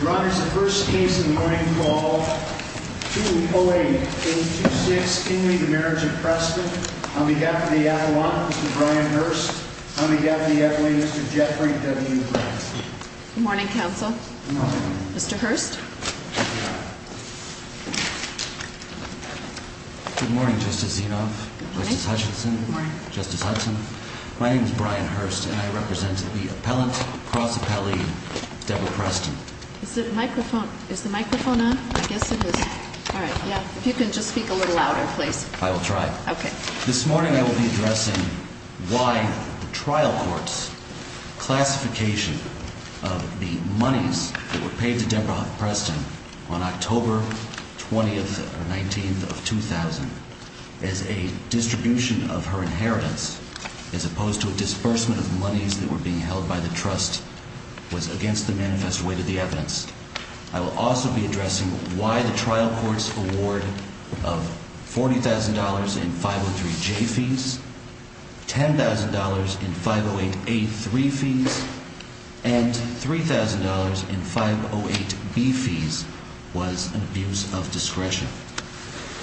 Your Honor, this is the first case in the morning, call 208-826-Kinley, the marriage of Preston. On behalf of the Attilaw, Mr. Brian Hurst. On behalf of the Attilaw, Mr. Jeffrey W. Preston. Good morning, Counsel. Good morning. Mr. Hurst. Good morning, Justice Zinov. Good morning. Justice Hutchinson. Good morning. Is the microphone on? I guess it is. All right, yeah. If you can just speak a little louder, please. I will try. Okay. This morning I will be addressing why the trial court's classification of the monies that were paid to Deborah Preston on October 20th or 19th of 2000 as a distribution of her inheritance, as opposed to a disbursement of monies that were being held by the trust, was against the manifest way to the evidence. I will also be addressing why the trial court's award of $40,000 in 503-J fees, $10,000 in 508-A-3 fees, and $3,000 in 508-B fees was an abuse of discretion.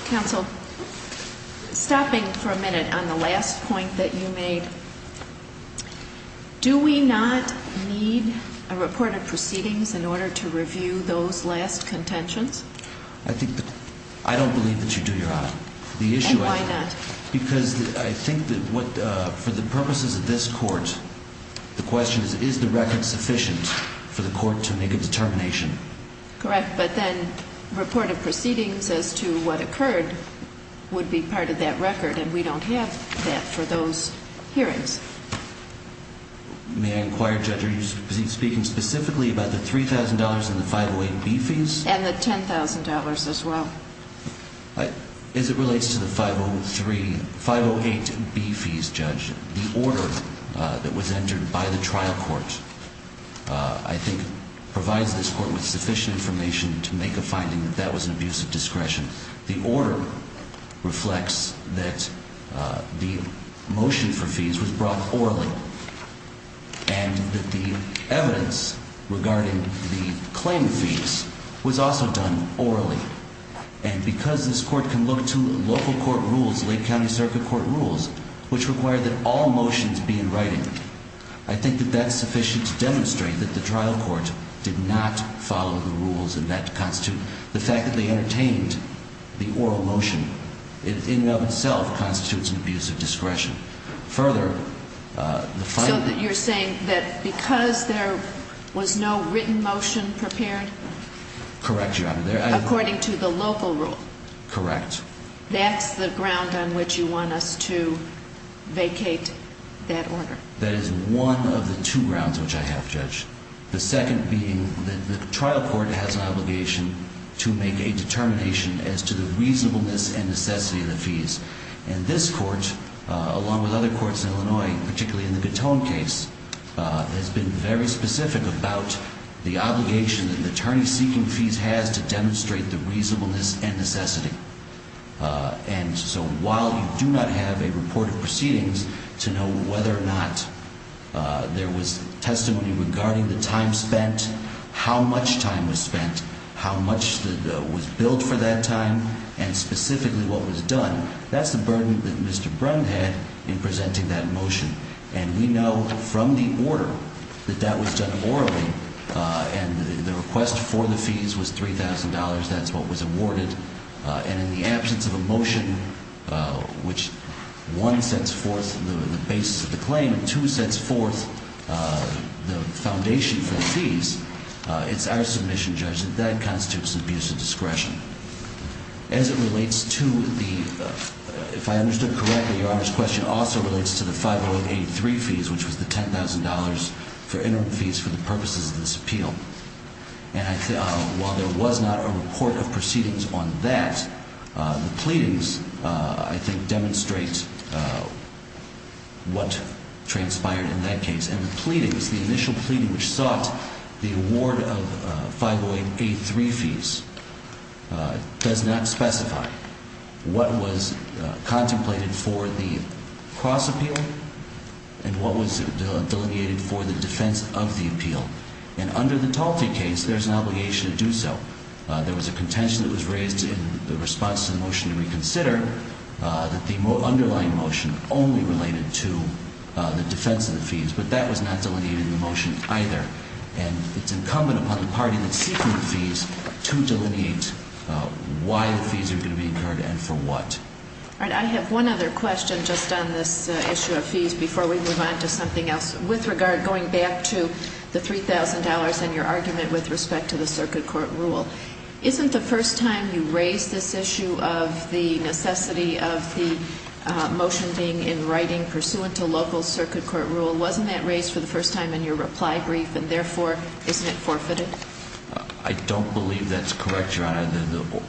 Counsel, stopping for a minute on the last point that you made, do we not need a report of proceedings in order to review those last contentions? I don't believe that you do, Your Honor. And why not? Because I think that for the purposes of this court, the question is, is the record sufficient for the court to make a determination? Correct, but then report of proceedings as to what occurred would be part of that record, and we don't have that for those hearings. May I inquire, Judge, are you speaking specifically about the $3,000 and the 508-B fees? And the $10,000 as well. As it relates to the 508-B fees, Judge, the order that was entered by the trial court, I think, provides this court with sufficient information to make a finding that that was an abuse of discretion. The order reflects that the motion for fees was brought orally, and that the evidence regarding the claim fees was also done orally. And because this court can look to local court rules, Lake County Circuit Court rules, which require that all motions be in writing, I think that that's sufficient to demonstrate that the trial court did not follow the rules, and that to constitute the fact that they entertained the oral motion in and of itself constitutes an abuse of discretion. Further, the finding... So you're saying that because there was no written motion prepared? Correct, Your Honor. According to the local rule? Correct. That's the ground on which you want us to vacate that order? That is one of the two grounds which I have, Judge. The second being that the trial court has an obligation to make a determination as to the reasonableness and necessity of the fees. And this court, along with other courts in Illinois, particularly in the Gatone case, has been very specific about the obligation that an attorney seeking fees has to demonstrate the reasonableness and necessity. And so while you do not have a report of proceedings to know whether or not there was testimony regarding the time spent, how much time was spent, how much was billed for that time, and specifically what was done, that's the burden that Mr. Brehm had in presenting that motion. And we know from the order that that was done orally. And the request for the fees was $3,000. That's what was awarded. And in the absence of a motion which one sets forth the basis of the claim and two sets forth the foundation for the fees, it's our submission, Judge, that that constitutes an abuse of discretion. As it relates to the, if I understood correctly, Your Honor's question also relates to the 50883 fees, which was the $10,000 for interim fees for the purposes of this appeal. And while there was not a report of proceedings on that, the pleadings, I think, demonstrate what transpired in that case. And the pleadings, the initial pleading which sought the award of 50883 fees does not specify what was contemplated for the cross appeal and what was delineated for the defense of the appeal. And under the Talty case, there's an obligation to do so. There was a contention that was raised in the response to the motion to reconsider that the underlying motion only related to the defense of the fees. But that was not delineated in the motion either. And it's incumbent upon the party that's seeking the fees to delineate why the fees are going to be incurred and for what. All right, I have one other question just on this issue of fees before we move on to something else. With regard, going back to the $3,000 and your argument with respect to the circuit court rule, isn't the first time you raised this issue of the necessity of the motion being in writing pursuant to local circuit court rule? Wasn't that raised for the first time in your reply brief? And therefore, isn't it forfeited? The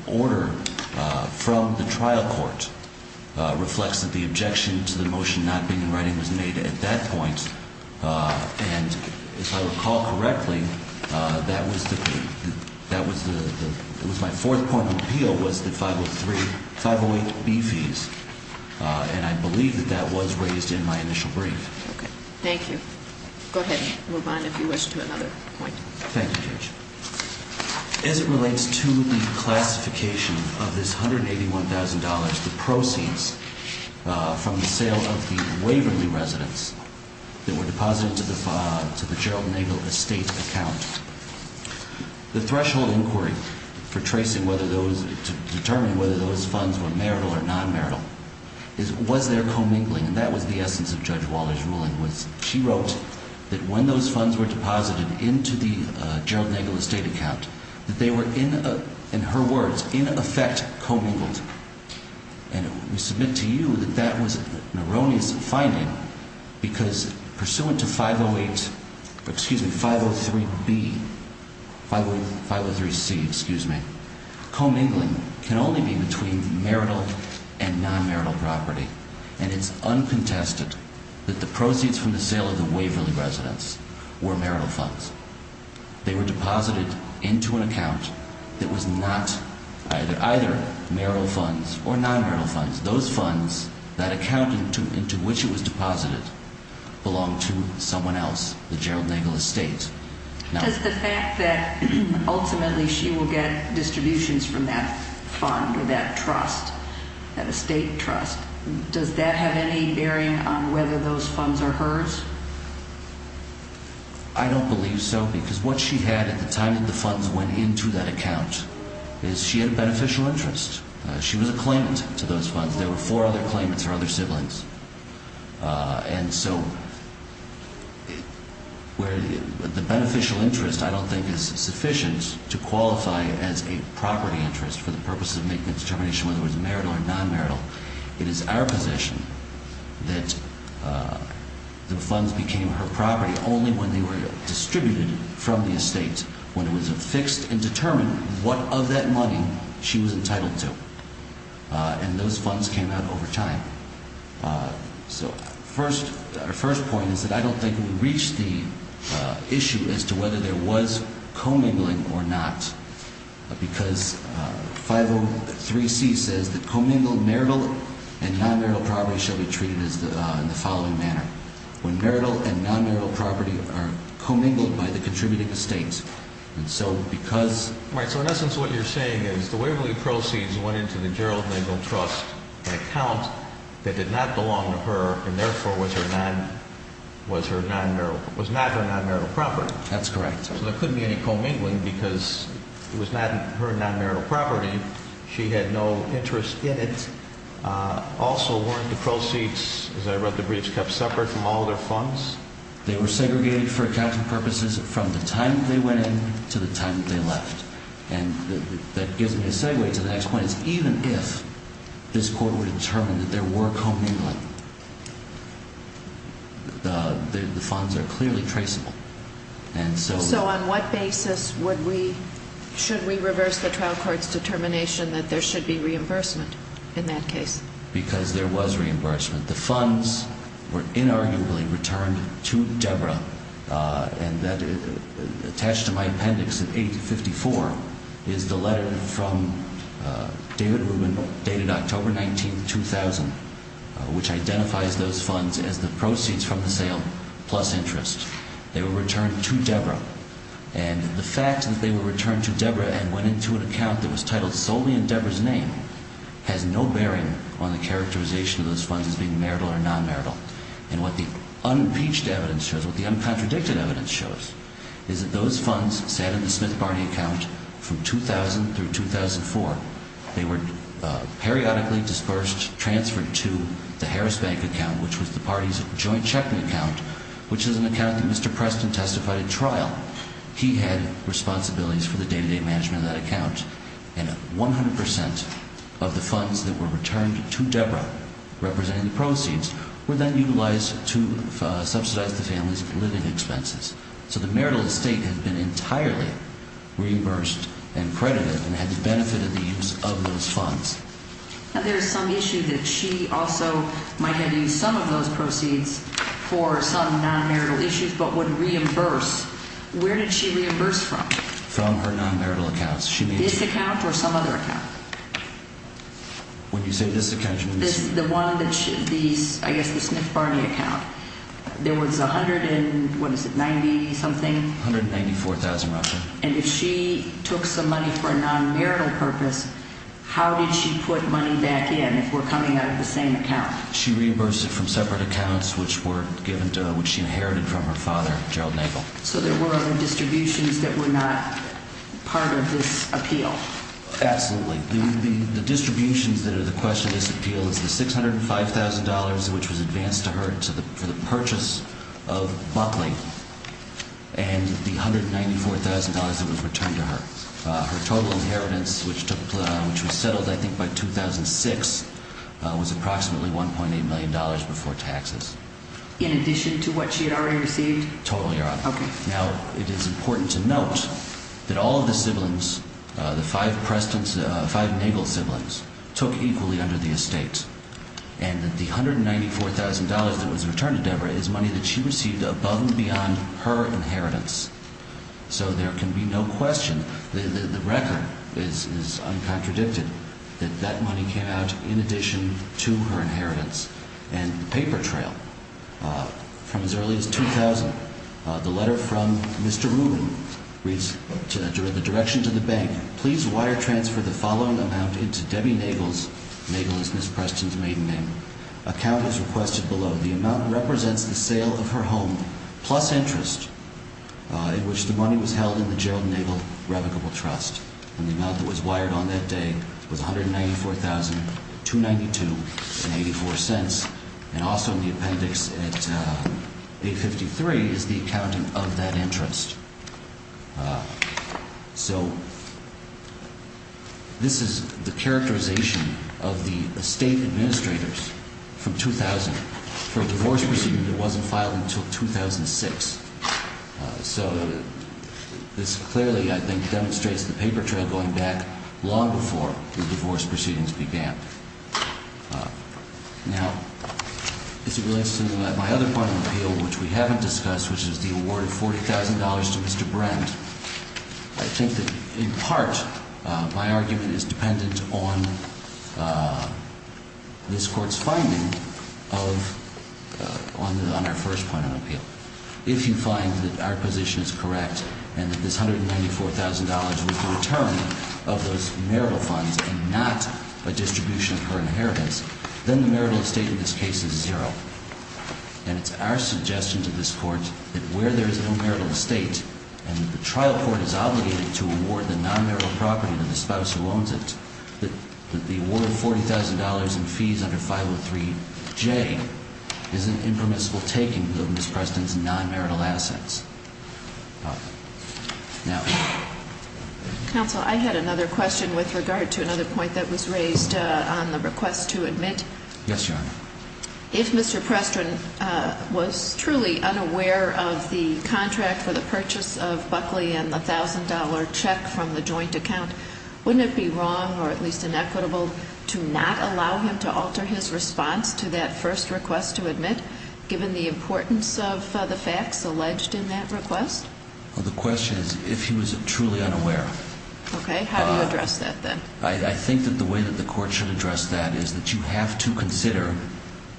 order from the trial court reflects that the objection to the motion not being in writing was made at that point. And if I recall correctly, that was my fourth point of appeal was the 508B fees. And I believe that that was raised in my initial brief. Okay, thank you. Go ahead and move on if you wish to another point. Thank you, Judge. As it relates to the classification of this $181,000, the proceeds from the sale of the Waverly residents that were deposited to the Gerald Nagel estate account, the threshold inquiry for tracing whether those, to determine whether those funds were marital or non-marital, was there commingling? And that was the essence of Judge Waller's ruling was she wrote that when those funds were deposited into the Gerald Nagel estate account, that they were in her words, in effect, commingled. And we submit to you that that was an erroneous finding because pursuant to 508, excuse me, 503B, 503C, excuse me, commingling can only be between marital and non-marital property. And it's uncontested that the proceeds from the sale of the Waverly residents were marital funds. They were deposited into an account that was not either marital funds or non-marital funds. Those funds, that account into which it was deposited, belonged to someone else, the Gerald Nagel estate. Does the fact that ultimately she will get distributions from that fund or that trust, that estate trust, does that have any bearing on whether those funds are hers? I don't believe so because what she had at the time that the funds went into that account is she had a beneficial interest. She was a claimant to those funds. There were four other claimants, her other siblings. And so the beneficial interest I don't think is sufficient to qualify as a property interest for the purposes of making a determination whether it was marital or non-marital. It is our position that the funds became her property only when they were distributed from the estate, when it was fixed and determined what of that money she was entitled to. And those funds came out over time. So our first point is that I don't think we reached the issue as to whether there was commingling or not. Because 503C says that commingled marital and non-marital property shall be treated in the following manner. When marital and non-marital property are commingled by the contributing estate. All right. So in essence what you're saying is the Waverly proceeds went into the Gerald Nagel Trust, an account that did not belong to her and therefore was not her non-marital property. That's correct. So there couldn't be any commingling because it was not her non-marital property. She had no interest in it. Also, weren't the proceeds, as I read the briefs, kept separate from all of their funds? They were segregated for accounting purposes from the time that they went in to the time that they left. And that gives me a segue to the next point. Even if this Court were to determine that there were commingling, the funds are clearly traceable. So on what basis should we reverse the trial court's determination that there should be reimbursement in that case? Because there was reimbursement. The funds were inarguably returned to Deborah, and attached to my appendix at 854 is the letter from David Rubin dated October 19, 2000, which identifies those funds as the proceeds from the sale plus interest. And the fact that they were returned to Deborah and went into an account that was titled solely in Deborah's name has no bearing on the characterization of those funds as being marital or non-marital. And what the unimpeached evidence shows, what the uncontradicted evidence shows, is that those funds sat in the Smith-Barney account from 2000 through 2004. They were periodically dispersed, transferred to the Harris Bank account, which was the party's joint checking account, which is an account that Mr. Preston testified at trial. He had responsibilities for the day-to-day management of that account. And 100 percent of the funds that were returned to Deborah, representing the proceeds, were then utilized to subsidize the family's living expenses. So the marital estate had been entirely reimbursed and credited and had benefited the use of those funds. Now, there is some issue that she also might have used some of those proceeds for some non-marital issues but would reimburse. Where did she reimburse from? From her non-marital accounts. This account or some other account? When you say this account, you mean this one? The one that she, these, I guess the Smith-Barney account. There was a hundred and, what is it, 90-something? 194,000 roughly. And if she took some money for a non-marital purpose, how did she put money back in if we're coming out of the same account? She reimbursed it from separate accounts, which she inherited from her father, Gerald Nagle. So there were other distributions that were not part of this appeal? Absolutely. The distributions that are the question of this appeal is the $605,000, which was advanced to her for the purchase of Buckley, and the $194,000 that was returned to her. Her total inheritance, which was settled I think by 2006, was approximately $1.8 million before taxes. In addition to what she had already received? Totally already. Now, it is important to note that all of the siblings, the five Nagle siblings, took equally under the estate. And that the $194,000 that was returned to Deborah is money that she received above and beyond her inheritance. So there can be no question, the record is uncontradicted, that that money came out in addition to her inheritance. And the paper trail, from as early as 2000, the letter from Mr. Rubin reads, in the direction to the bank, Please wire transfer the following amount into Debbie Nagle's, Nagle is Ms. Preston's maiden name, account as requested below. The amount represents the sale of her home, plus interest, in which the money was held in the Gerald Nagle Revocable Trust. And the amount that was wired on that day was $194,292.84. And also in the appendix at page 53 is the accountant of that interest. So, this is the characterization of the estate administrators from 2000 for a divorce proceeding that wasn't filed until 2006. So, this clearly, I think, demonstrates the paper trail going back long before the divorce proceedings began. Now, as it relates to my other point of appeal, which we haven't discussed, which is the award of $40,000 to Mr. Brent, I think that, in part, my argument is dependent on this Court's finding on our first point of appeal. If you find that our position is correct, and that this $194,000 was the return of those marital funds and not a distribution of her inheritance, then the marital estate in this case is zero. And it's our suggestion to this Court that where there is no marital estate, and the trial court is obligated to award the non-marital property to the spouse who owns it, that the award of $40,000 in fees under 503J is an impermissible taking of Ms. Preston's non-marital assets. Now. Counsel, I had another question with regard to another point that was raised on the request to admit. Yes, Your Honor. If Mr. Preston was truly unaware of the contract for the purchase of Buckley and the $1,000 check from the joint account, wouldn't it be wrong, or at least inequitable, to not allow him to alter his response to that first request to admit, given the importance of the facts alleged in that request? Well, the question is if he was truly unaware. Okay. How do you address that, then? I think that the way that the Court should address that is that you have to consider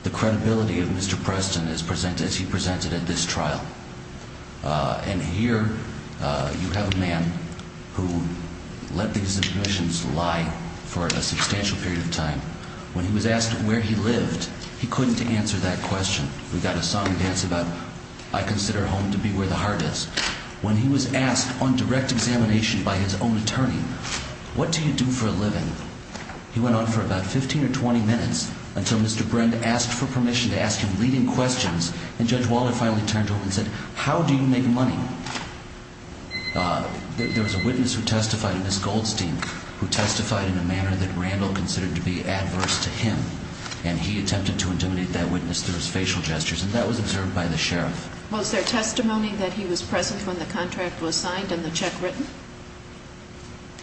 the credibility of Mr. Preston as he presented at this trial. And here you have a man who let these admissions lie for a substantial period of time. When he was asked where he lived, he couldn't answer that question. We've got a song and dance about, I consider home to be where the heart is. When he was asked on direct examination by his own attorney, what do you do for a living, he went on for about 15 or 20 minutes until Mr. Brend asked for permission to ask him leading questions, and Judge Waller finally turned to him and said, how do you make money? There was a witness who testified, Ms. Goldstein, who testified in a manner that Randall considered to be adverse to him, and he attempted to intimidate that witness through his facial gestures, and that was observed by the sheriff. Was there testimony that he was present when the contract was signed and the check written?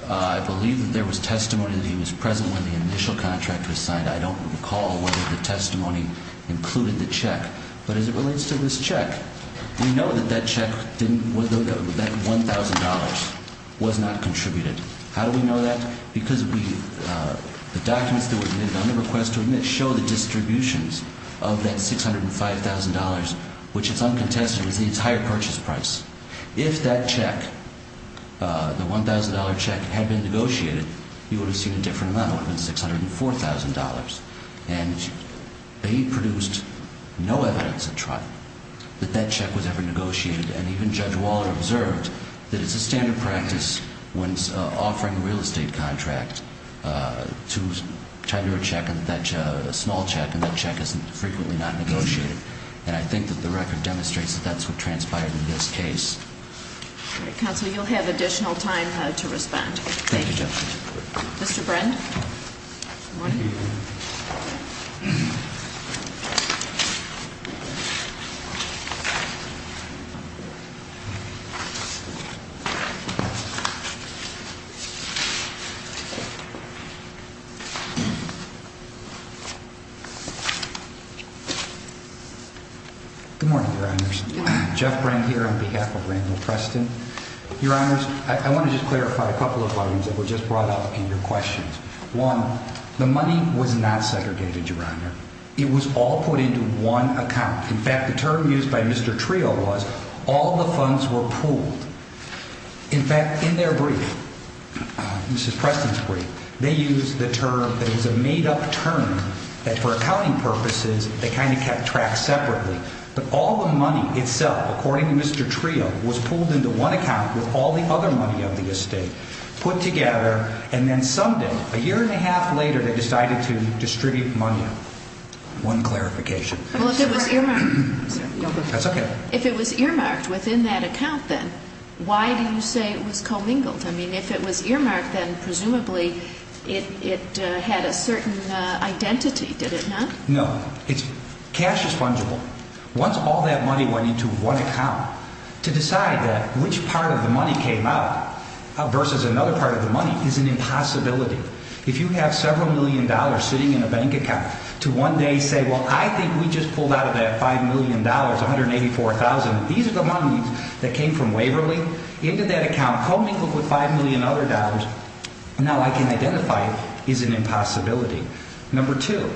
I believe that there was testimony that he was present when the initial contract was signed. I don't recall whether the testimony included the check, but as it relates to this check, we know that that check didn't, that $1,000 was not contributed. How do we know that? Because the documents that were submitted on the request to admit show the distributions of that $605,000, which is uncontested, was the entire purchase price. If that check, the $1,000 check, had been negotiated, you would have seen a different amount. It would have been $604,000. And they produced no evidence at trial that that check was ever negotiated, and even Judge Waller observed that it's a standard practice when offering a real estate contract to tender a check, a small check, and that check is frequently not negotiated. And I think that the record demonstrates that that's what transpired in this case. All right, Counselor, you'll have additional time to respond. Thank you, Judge. Good morning. Good morning, Your Honors. Jeff Brent here on behalf of Randall Preston. Your Honors, I want to just clarify a couple of things that were just brought up in your questions. One, the money was not segregated, Your Honor. It was all put into one account. In fact, the term used by Mr. Trio was, all the funds were pooled. They used the term that was a made-up term that, for accounting purposes, they kind of kept track separately. But all the money itself, according to Mr. Trio, was pooled into one account with all the other money of the estate, put together, and then some day, a year and a half later, they decided to distribute money. One clarification. That's okay. If it was earmarked within that account, then why do you say it was commingled? I mean, if it was earmarked, then presumably it had a certain identity, did it not? No. Cash is fungible. Once all that money went into one account, to decide that which part of the money came out versus another part of the money is an impossibility. If you have several million dollars sitting in a bank account, to one day say, well, I think we just pulled out of that $5 million, $184,000, these are the monies that came from Waverly, into that account, commingled with $5 million other dollars, now I can identify it as an impossibility. Number two.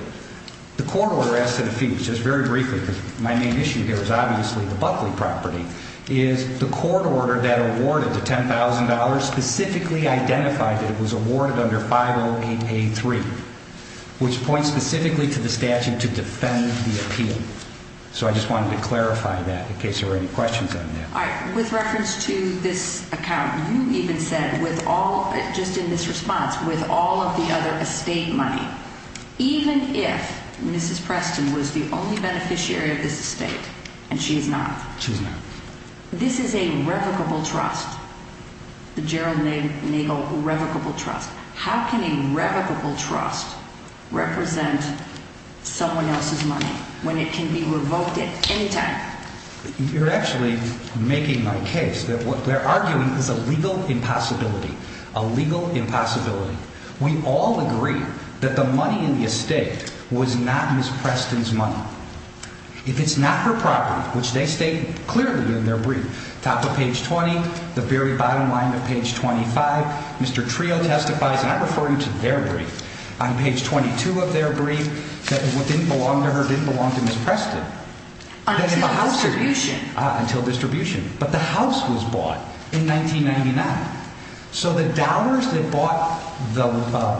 The court order as to the fee, just very briefly, because my main issue here is obviously the Buckley property, is the court order that awarded the $10,000 specifically identified that it was awarded under 50883, which points specifically to the statute to defend the appeal. So I just wanted to clarify that in case there were any questions on that. All right. With reference to this account, you even said with all, just in this response, with all of the other estate money, even if Mrs. Preston was the only beneficiary of this estate, and she is not. She is not. This is a revocable trust, the Gerald Nagle revocable trust. How can a revocable trust represent someone else's money when it can be revoked at any time? You're actually making my case that what they're arguing is a legal impossibility, a legal impossibility. We all agree that the money in the estate was not Mrs. Preston's money. If it's not her property, which they state clearly in their brief, top of page 20, the very bottom line of page 25, Mr. Trio testifies, and I'm referring to their brief, on page 22 of their brief, that didn't belong to her, didn't belong to Mrs. Preston. Until distribution. Until distribution. But the house was bought in 1999. So the dollars that bought the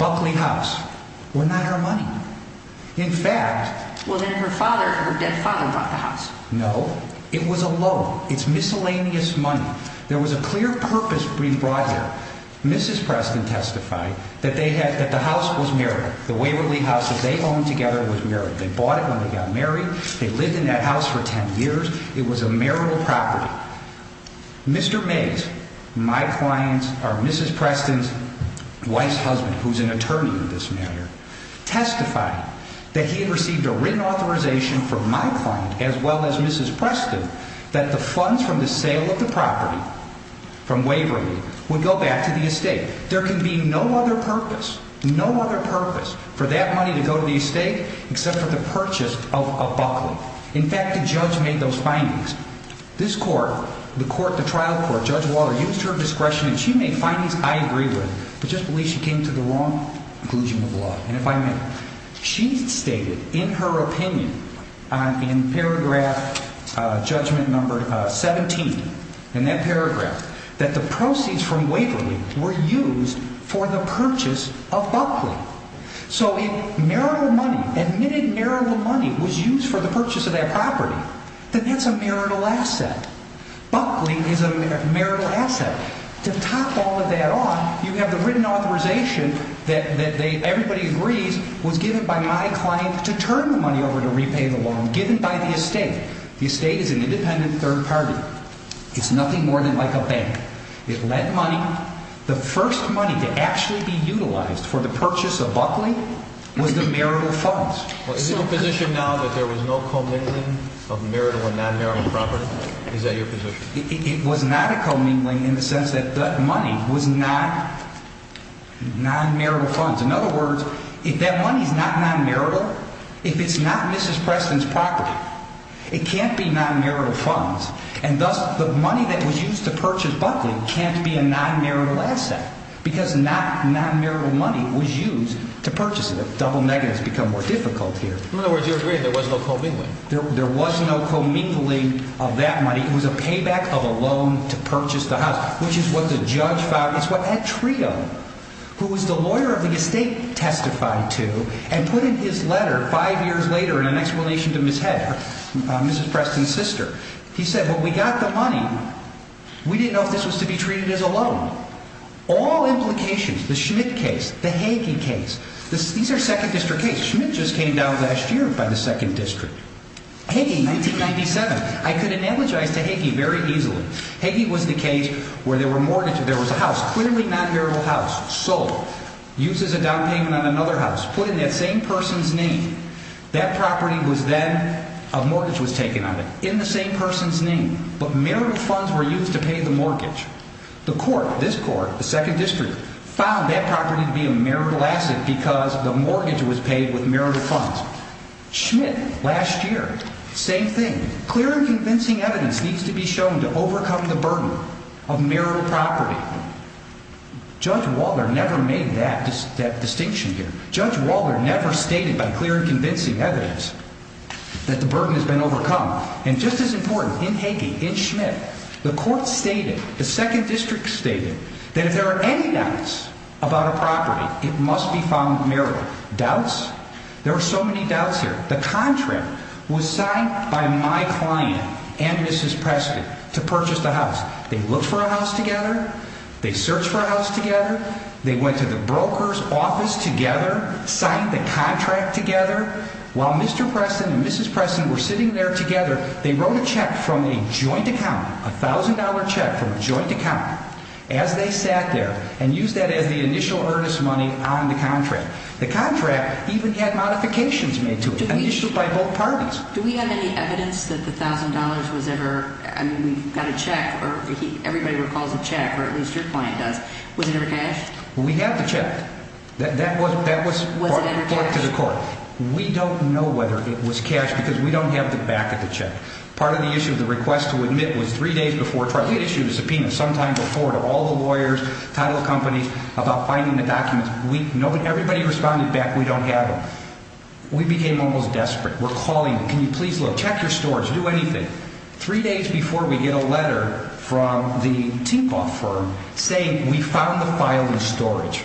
Buckley house were not her money. In fact. Well, then her father, her dead father bought the house. No. It was a loan. It's miscellaneous money. There was a clear purpose brief brought here. Mrs. Preston testified that they had, that the house was married. The Waverly house that they owned together was married. They bought it when they got married. They lived in that house for 10 years. It was a marital property. Mr. Mays, my client's, or Mrs. Preston's wife's husband, who's an attorney in this matter, testified that he had received a written authorization from my client, as well as Mrs. Preston, that the funds from the sale of the property from Waverly would go back to the estate. There can be no other purpose, no other purpose for that money to go to the estate except for the purchase of a Buckley. In fact, the judge made those findings. This court, the court, the trial court, Judge Walter, used her discretion, and she made findings I agree with. I just believe she came to the wrong conclusion of the law. And if I may, she stated in her opinion, in paragraph judgment number 17, in that paragraph, that the proceeds from Waverly were used for the purchase of Buckley. So if marital money, admitted marital money was used for the purchase of that property, then that's a marital asset. Buckley is a marital asset. To top all of that off, you have the written authorization that everybody agrees was given by my client to turn the money over to repay the loan, given by the estate. The estate is an independent third party. It's nothing more than like a bank. It lent money. The first money to actually be utilized for the purchase of Buckley was the marital funds. Is it your position now that there was no commingling of marital or non-marital property? Is that your position? It was not a commingling in the sense that that money was not non-marital funds. In other words, if that money is not non-marital, if it's not Mrs. Preston's property, it can't be non-marital funds. And thus, the money that was used to purchase Buckley can't be a non-marital asset because not non-marital money was used to purchase it. A double negative has become more difficult here. In other words, you're agreeing there was no commingling. There was no commingling of that money. It was a payback of a loan to purchase the house, which is what the judge found. It's what Ed Trio, who was the lawyer of the estate, testified to and put in his letter five years later in an explanation to Ms. Heather, Mrs. Preston's sister. He said, well, we got the money. We didn't know if this was to be treated as a loan. All implications, the Schmidt case, the Hagey case, these are second district cases. Schmidt just came down last year by the second district. Hagey, 1997. I could analogize to Hagey very easily. Hagey was the case where there were mortgages. There was a house, clearly non-marital house, sold, used as a down payment on another house, put in that same person's name. That property was then, a mortgage was taken on it, in the same person's name. But marital funds were used to pay the mortgage. The court, this court, the second district, found that property to be a marital asset because the mortgage was paid with marital funds. Schmidt, last year, same thing. Clear and convincing evidence needs to be shown to overcome the burden of marital property. Judge Waller never made that distinction here. Judge Waller never stated by clear and convincing evidence that the burden has been overcome. And just as important, in Hagey, in Schmidt, the court stated, the second district stated, that if there are any doubts about a property, it must be found marital. Doubts? There are so many doubts here. The contract was signed by my client and Mrs. Preston to purchase the house. They looked for a house together. They searched for a house together. They went to the broker's office together, signed the contract together. While Mr. Preston and Mrs. Preston were sitting there together, they wrote a check from a joint account, a $1,000 check from a joint account. As they sat there, and used that as the initial earnest money on the contract. The contract even had modifications made to it, issued by both parties. Do we have any evidence that the $1,000 was ever, I mean, we got a check, or everybody recalls a check, or at least your client does. Was it ever cashed? We have the check. That was brought to the court. We don't know whether it was cashed because we don't have the back of the check. Part of the issue of the request to admit was three days before trial. We had issued a subpoena sometime before to all the lawyers, title companies, about finding the documents. Everybody responded back, we don't have them. We became almost desperate. We're calling them, can you please look, check your storage, do anything. Three days before we get a letter from the Tinkoff firm saying we found the file in storage.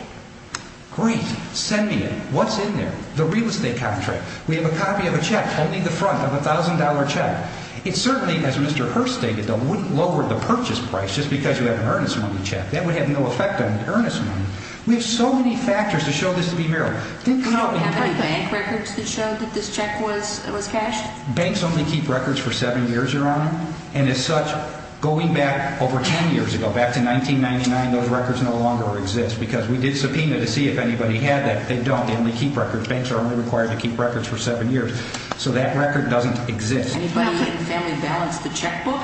Great, send me it. What's in there? The real estate contract. We have a copy of a check, only the front of a $1,000 check. It certainly, as Mr. Hurst stated, wouldn't lower the purchase price just because you have an earnest money check. That would have no effect on earnest money. We have so many factors to show this to be real. Do you have any bank records that show that this check was cashed? Banks only keep records for seven years, Your Honor. And as such, going back over ten years ago, back to 1999, those records no longer exist because we did subpoena to see if anybody had that. They don't. They only keep records. Banks are only required to keep records for seven years. So that record doesn't exist. Anybody in the family balance the checkbook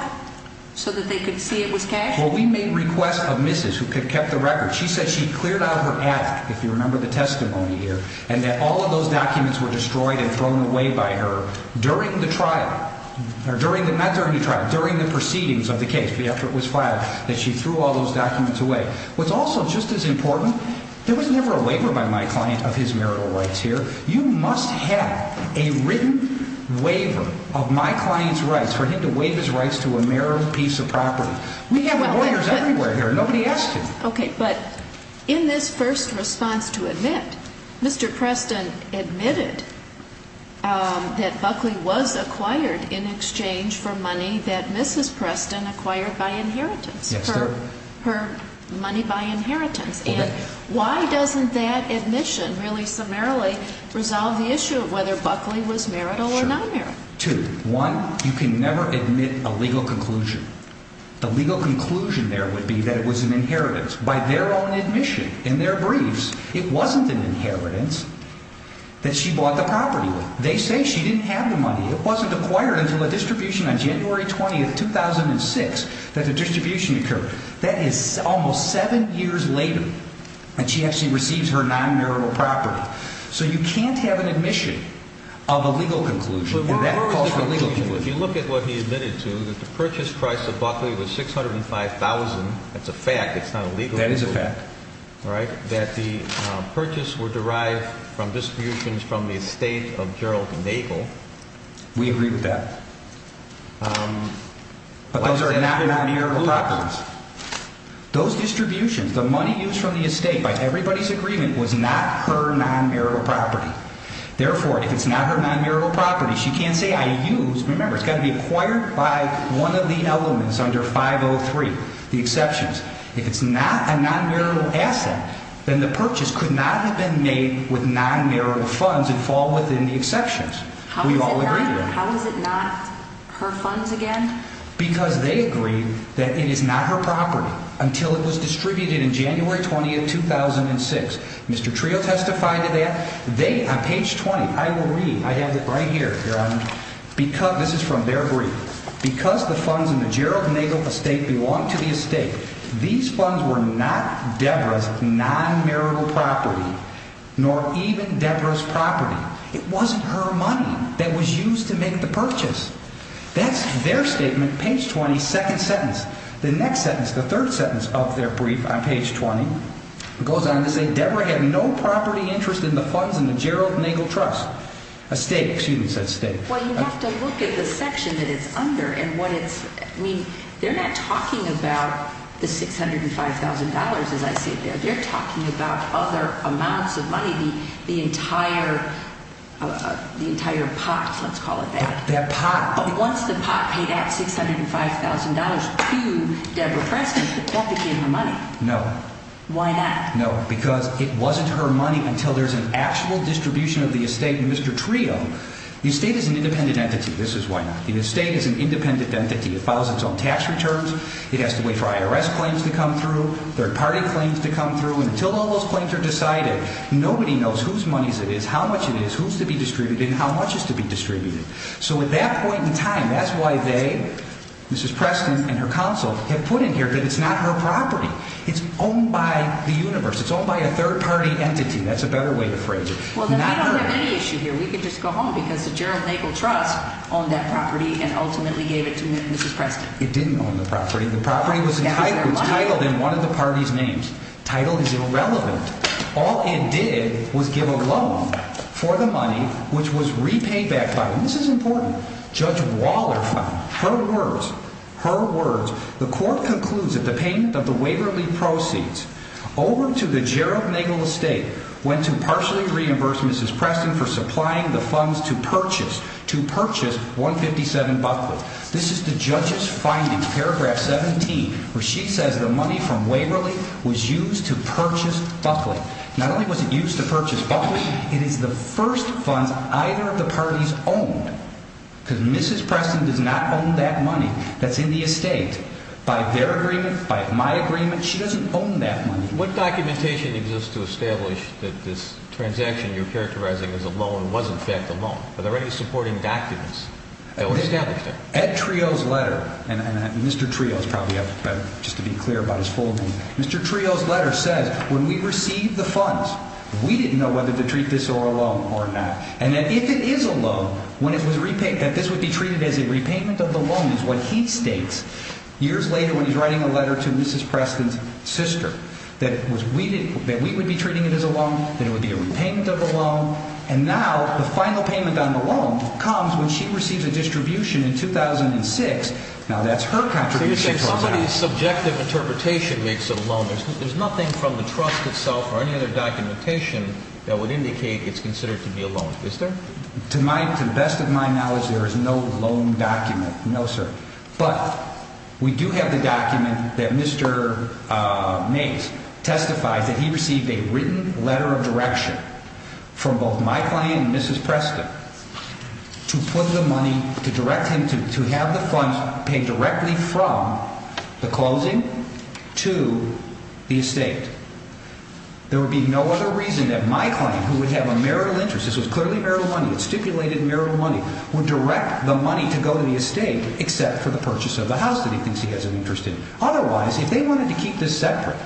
so that they could see it was cashed? Well, we made requests of Mrs. who kept the record. She said she cleared out her attic, if you remember the testimony here, and that all of those documents were destroyed and thrown away by her during the trial. Not during the trial. During the proceedings of the case after it was filed that she threw all those documents away. What's also just as important, there was never a waiver by my client of his marital rights here. You must have a written waiver of my client's rights for him to waive his rights to a marital piece of property. We have lawyers everywhere here. Nobody asked him. Okay. But in this first response to admit, Mr. Preston admitted that Buckley was acquired in exchange for money that Mrs. Preston acquired by inheritance, her money by inheritance. And why doesn't that admission really summarily resolve the issue of whether Buckley was marital or non-marital? Two. One, you can never admit a legal conclusion. The legal conclusion there would be that it was an inheritance by their own admission in their briefs. It wasn't an inheritance that she bought the property with. They say she didn't have the money. It wasn't acquired until a distribution on January 20, 2006 that the distribution occurred. That is almost seven years later, and she actually receives her non-marital property. So you can't have an admission of a legal conclusion, and that calls for a legal conclusion. Two, if you look at what he admitted to, that the purchase price of Buckley was $605,000. That's a fact. It's not a legal conclusion. That is a fact. All right? That the purchase were derived from distributions from the estate of Gerald Nagel. We agree with that. But those are not non-marital properties. Those distributions, the money used from the estate by everybody's agreement, was not her non-marital property. Therefore, if it's not her non-marital property, she can't say, I used. Remember, it's got to be acquired by one of the elements under 503, the exceptions. If it's not a non-marital asset, then the purchase could not have been made with non-marital funds and fall within the exceptions. We all agree with that. How is it not her funds again? Because they agreed that it is not her property until it was distributed on January 20, 2006. Mr. Trio testified to that. They, on page 20, I will read. I have it right here. This is from their brief. Because the funds in the Gerald Nagel estate belong to the estate, these funds were not Deborah's non-marital property nor even Deborah's property. It wasn't her money that was used to make the purchase. That's their statement, page 20, second sentence. The next sentence, the third sentence of their brief on page 20, it goes on to say Deborah had no property interest in the funds in the Gerald Nagel estate. Well, you have to look at the section that it's under. I mean, they're not talking about the $605,000, as I see it there. They're talking about other amounts of money, the entire pot, let's call it that. That pot. They did not pay that $605,000 to Deborah Preston. That became her money. No. Why not? No, because it wasn't her money until there's an actual distribution of the estate. Mr. Trio, the estate is an independent entity. This is why not. The estate is an independent entity. It follows its own tax returns. It has to wait for IRS claims to come through, third-party claims to come through, until all those claims are decided. Nobody knows whose money it is, how much it is, who's to be distributed, and how much is to be distributed. So at that point in time, that's why they, Mrs. Preston and her counsel, have put in here that it's not her property. It's owned by the universe. It's owned by a third-party entity. That's a better way to phrase it. Well, then we don't have any issue here. We can just go home because the Gerald Nagel Trust owned that property and ultimately gave it to Mrs. Preston. It didn't own the property. The property was entitled in one of the party's names. Title is irrelevant. All it did was give a loan for the money, which was repaid back by, and this is important, Judge Waller found. Her words, her words. The court concludes that the payment of the Waverly proceeds over to the Gerald Nagel Estate went to partially reimburse Mrs. Preston for supplying the funds to purchase, to purchase 157 Buckley. This is the judge's finding, paragraph 17, where she says the money from Waverly was used to purchase Buckley. Not only was it used to purchase Buckley, it is the first funds either of the parties owned because Mrs. Preston does not own that money that's in the estate. By their agreement, by my agreement, she doesn't own that money. What documentation exists to establish that this transaction you're characterizing as a loan was in fact a loan? Are there any supporting documents that would establish that? Ed Trio's letter, and Mr. Trio is probably better just to be clear about his full name. Mr. Trio's letter says when we received the funds, we didn't know whether to treat this or a loan or not. And that if it is a loan, when it was repaid, that this would be treated as a repayment of the loan is what he states years later when he's writing a letter to Mrs. Preston's sister. That we would be treating it as a loan, that it would be a repayment of the loan. And now the final payment on the loan comes when she receives a distribution in 2006. Now that's her contribution. You're saying somebody's subjective interpretation makes it a loan. There's nothing from the trust itself or any other documentation that would indicate it's considered to be a loan, is there? To the best of my knowledge, there is no loan document. No, sir. But we do have the document that Mr. Mays testifies that he received a written letter of direction from both my client and Mrs. Preston to put the money, to direct him to have the funds paid directly from the closing to the estate. There would be no other reason that my client, who would have a marital interest, this was clearly marital money, it's stipulated marital money, would direct the money to go to the estate except for the purchase of the house that he thinks he has an interest in. Otherwise, if they wanted to keep this separate,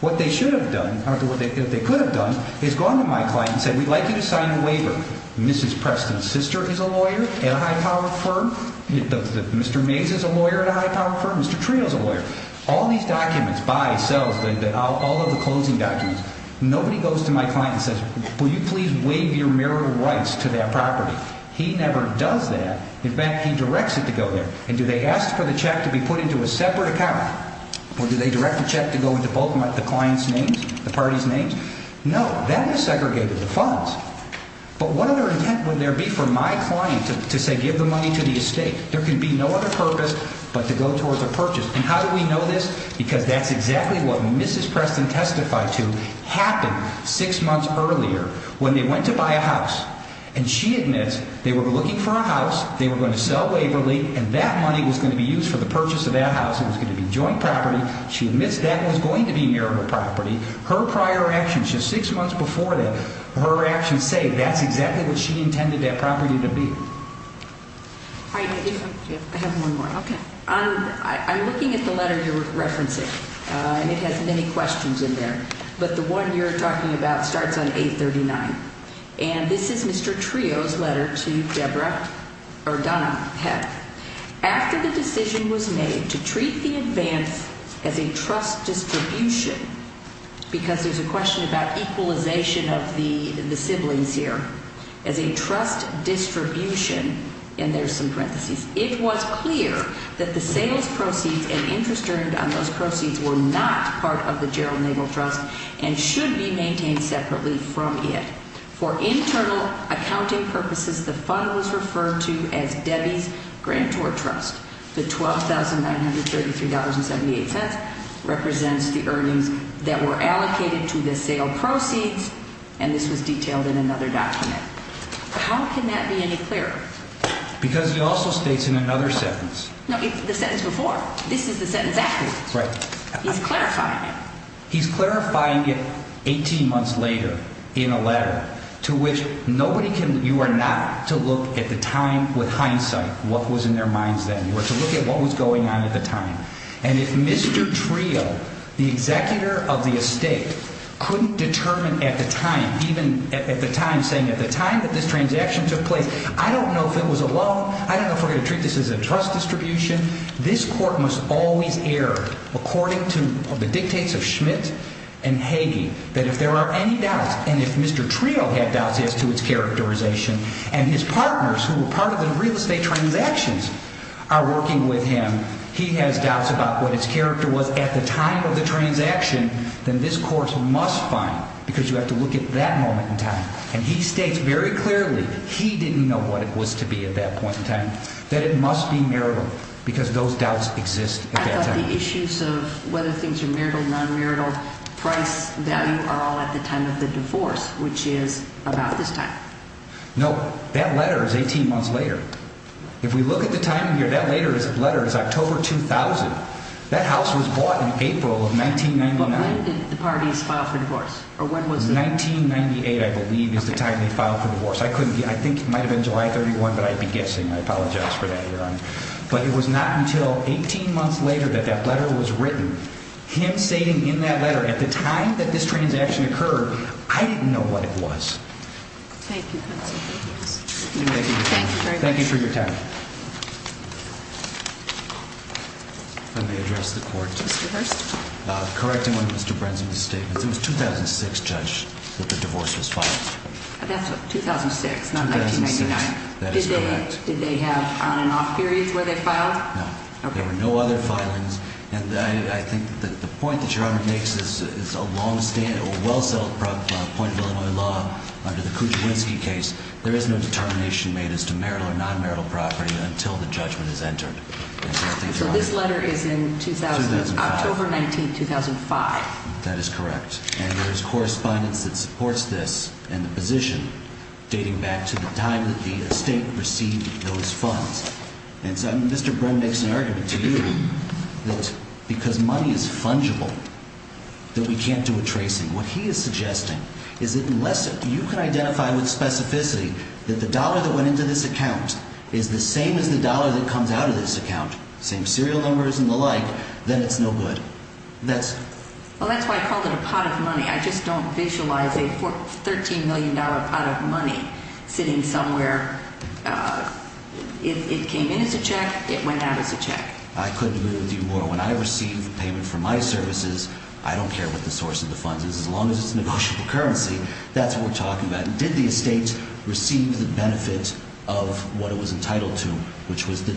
what they should have done, or what they could have done, is gone to my client and said, we'd like you to sign a waiver. Mrs. Preston's sister is a lawyer at a high-powered firm. Mr. Mays is a lawyer at a high-powered firm. Mr. Trio's a lawyer. All these documents, buys, sells, all of the closing documents, nobody goes to my client and says, will you please waive your marital rights to that property? He never does that. In fact, he directs it to go there. And do they ask for the check to be put into a separate account? Or do they direct the check to go into both the client's names, the party's names? No, that is segregated, the funds. But what other intent would there be for my client to say, give the money to the estate? There can be no other purpose but to go towards a purchase. And how do we know this? Because that's exactly what Mrs. Preston testified to happened six months earlier when they went to buy a house. And she admits they were looking for a house, they were going to sell Waverly, and that money was going to be used for the purchase of that house. It was going to be joint property. She admits that was going to be marital property. Her prior actions just six months before that, her actions say that's exactly what she intended that property to be. I have one more. Okay. I'm looking at the letter you're referencing, and it has many questions in there. But the one you're talking about starts on 839. And this is Mr. Trio's letter to Deborah or Donna Peck. After the decision was made to treat the advance as a trust distribution, because there's a question about equalization of the siblings here, as a trust distribution, and there's some parentheses, it was clear that the sales proceeds and interest earned on those proceeds were not part of the Gerald Nagel Trust and should be maintained separately from it. For internal accounting purposes, the fund was referred to as Debbie's Grantor Trust. The $12,933.78 represents the earnings that were allocated to the sale proceeds, and this was detailed in another document. How can that be any clearer? Because he also states in another sentence. No, the sentence before. This is the sentence after it. Right. He's clarifying it. He's clarifying it 18 months later in a letter to which nobody can, you are not, to look at the time with hindsight what was in their minds then, or to look at what was going on at the time. And if Mr. Trio, the executor of the estate, couldn't determine at the time, even at the time, saying at the time that this transaction took place, I don't know if it was a loan. I don't know if we're going to treat this as a trust distribution. This court must always err according to the dictates of Schmidt and Hagee, that if there are any doubts, and if Mr. Trio had doubts as to its characterization, and his partners, who were part of the real estate transactions, are working with him, he has doubts about what its character was at the time of the transaction, then this court must find, because you have to look at that moment in time. And he states very clearly, he didn't know what it was to be at that point in time, that it must be marital, because those doubts exist at that time. I thought the issues of whether things are marital, non-marital, price, value, are all at the time of the divorce, which is about this time. No, that letter is 18 months later. If we look at the time here, that letter is October 2000. That house was bought in April of 1999. When did the parties file for divorce, or when was this? It was 1998, I believe, is the time they filed for divorce. I think it might have been July 31, but I'd be guessing. I apologize for that, Your Honor. But it was not until 18 months later that that letter was written. Him stating in that letter, at the time that this transaction occurred, I didn't know what it was. Thank you, counsel. Thank you for your time. Let me address the court. Mr. Hurst. Correcting one of Mr. Brenson's statements. It was 2006, Judge, that the divorce was filed. That's 2006, not 1999. That is correct. Did they have on and off periods where they filed? No. Okay. There were no other filings. And I think that the point that Your Honor makes is a well-settled point of Illinois law under the Kuczynski case. There is no determination made as to marital or non-marital property until the judgment is entered. So this letter is in 2000? 2005. October 19, 2005. That is correct. And there is correspondence that supports this and the position dating back to the time that the estate received those funds. And so Mr. Bren makes an argument to you that because money is fungible that we can't do a tracing. What he is suggesting is that unless you can identify with specificity that the dollar that went into this account is the same as the dollar that comes out of this account, same serial numbers and the like, then it's no good. Well, that's why I called it a pot of money. I just don't visualize a $13 million pot of money sitting somewhere. It came in as a check. It went out as a check. I couldn't agree with you more. When I receive payment from my services, I don't care what the source of the funds is. As long as it's negotiable currency, that's what we're talking about. Did the estate receive the benefit of what it was entitled to, which was the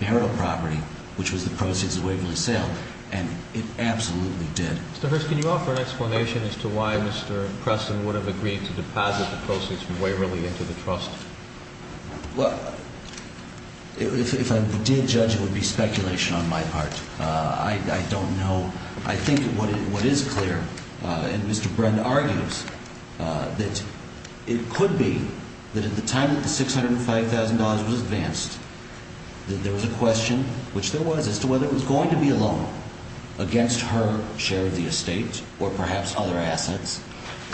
marital property, which was the proceeds of Waverly sale? And it absolutely did. Mr. Hirst, can you offer an explanation as to why Mr. Preston would have agreed to deposit the proceeds from Waverly into the trust? Well, if I did judge, it would be speculation on my part. I don't know. I think what is clear, and Mr. Brenner argues, that it could be that at the time that the $605,000 was advanced, that there was a question, which there was, as to whether it was going to be a loan against her share of the estate or perhaps other assets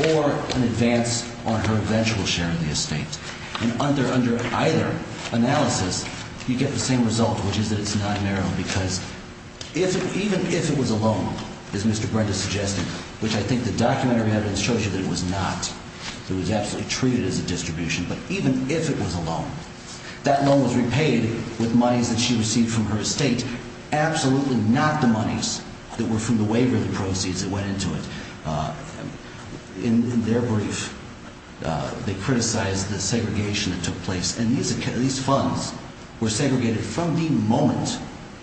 or an advance on her eventual share of the estate. And under either analysis, you get the same result, which is that it's not a marital, because even if it was a loan, as Mr. Brenner suggested, which I think the documentary evidence shows you that it was not, it was absolutely treated as a distribution. But even if it was a loan, that loan was repaid with monies that she received from her estate, absolutely not the monies that were from the Waverly proceeds that went into it. In their brief, they criticized the segregation that took place. And these funds were segregated from the moment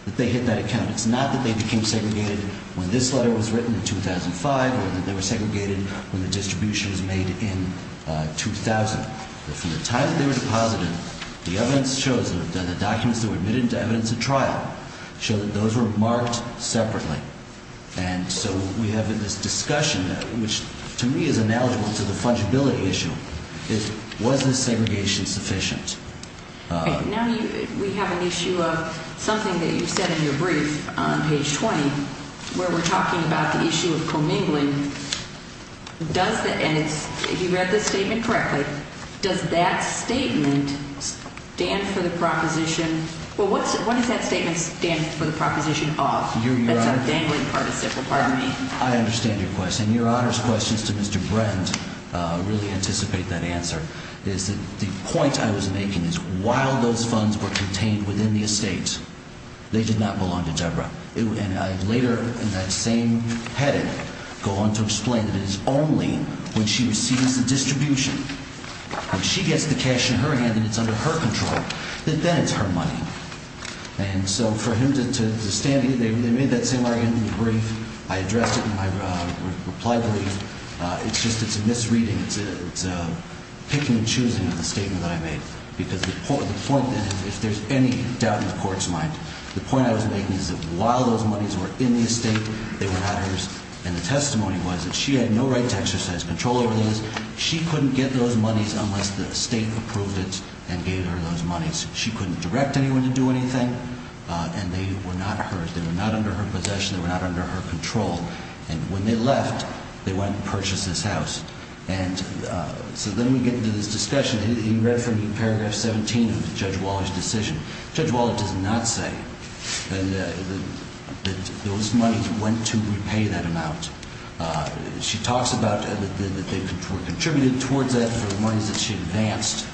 that they hit that account. It's not that they became segregated when this letter was written in 2005 or that they were segregated when the distribution was made in 2000. But from the time that they were deposited, the evidence shows that the documents that were admitted into evidence at trial show that those were marked separately. And so we have this discussion, which to me is ineligible to the fungibility issue, is was this segregation sufficient? Now we have an issue of something that you said in your brief on page 20, where we're talking about the issue of commingling. Does the – and it's – if you read the statement correctly, does that statement stand for the proposition – well, what does that statement stand for the proposition of? That's a dangling participle, pardon me. I understand your question. I understand your honors questions to Mr. Brent really anticipate that answer. The point I was making is while those funds were contained within the estate, they did not belong to Deborah. And I later in that same heading go on to explain that it is only when she receives the distribution, when she gets the cash in her hand and it's under her control, that then it's her money. And so for him to stand here – they made that same argument in the brief. I addressed it in my reply brief. It's just it's a misreading. It's a picking and choosing of the statement that I made. Because the point then, if there's any doubt in the court's mind, the point I was making is that while those monies were in the estate, they were not hers. And the testimony was that she had no right to exercise control over those. She couldn't get those monies unless the estate approved it and gave her those monies. She couldn't direct anyone to do anything. And they were not hers. They were not under her possession. They were not under her control. And when they left, they went and purchased this house. And so then we get into this discussion. You read from paragraph 17 of Judge Waller's decision. Judge Waller does not say that those monies went to repay that amount. She talks about that they were contributed towards that for the monies that she advanced.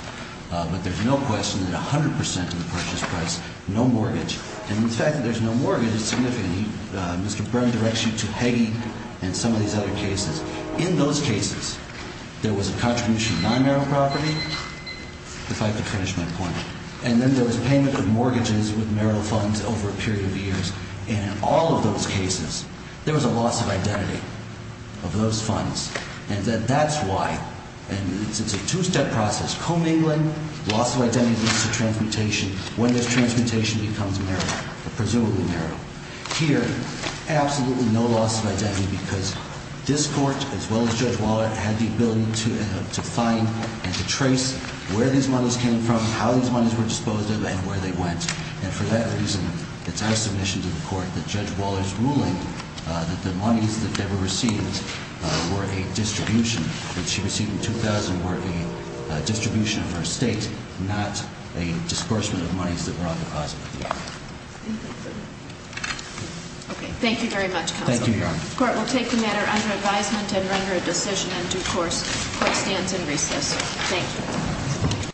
But there's no question that 100 percent of the purchase price, no mortgage. And the fact that there's no mortgage is significant. Mr. Byrne directs you to Peggy and some of these other cases. In those cases, there was a contribution of non-marital property. If I could finish my point. And then there was payment of mortgages with marital funds over a period of years. And in all of those cases, there was a loss of identity of those funds. And that's why. And it's a two-step process. Commingling, loss of identity leads to transmutation. When does transmutation become marital? Presumably marital. Here, absolutely no loss of identity because this court, as well as Judge Waller, had the ability to find and to trace where these monies came from, how these monies were disposed of, and where they went. And she was told that the monies that were received were a distribution. What she received in 2000 were a distribution of her estate, not a disbursement of monies that were on deposit. Okay. Thank you very much, counsel. Thank you, Your Honor. Court will take the matter under advisement and render a decision in due course. Court stands in recess. Thank you.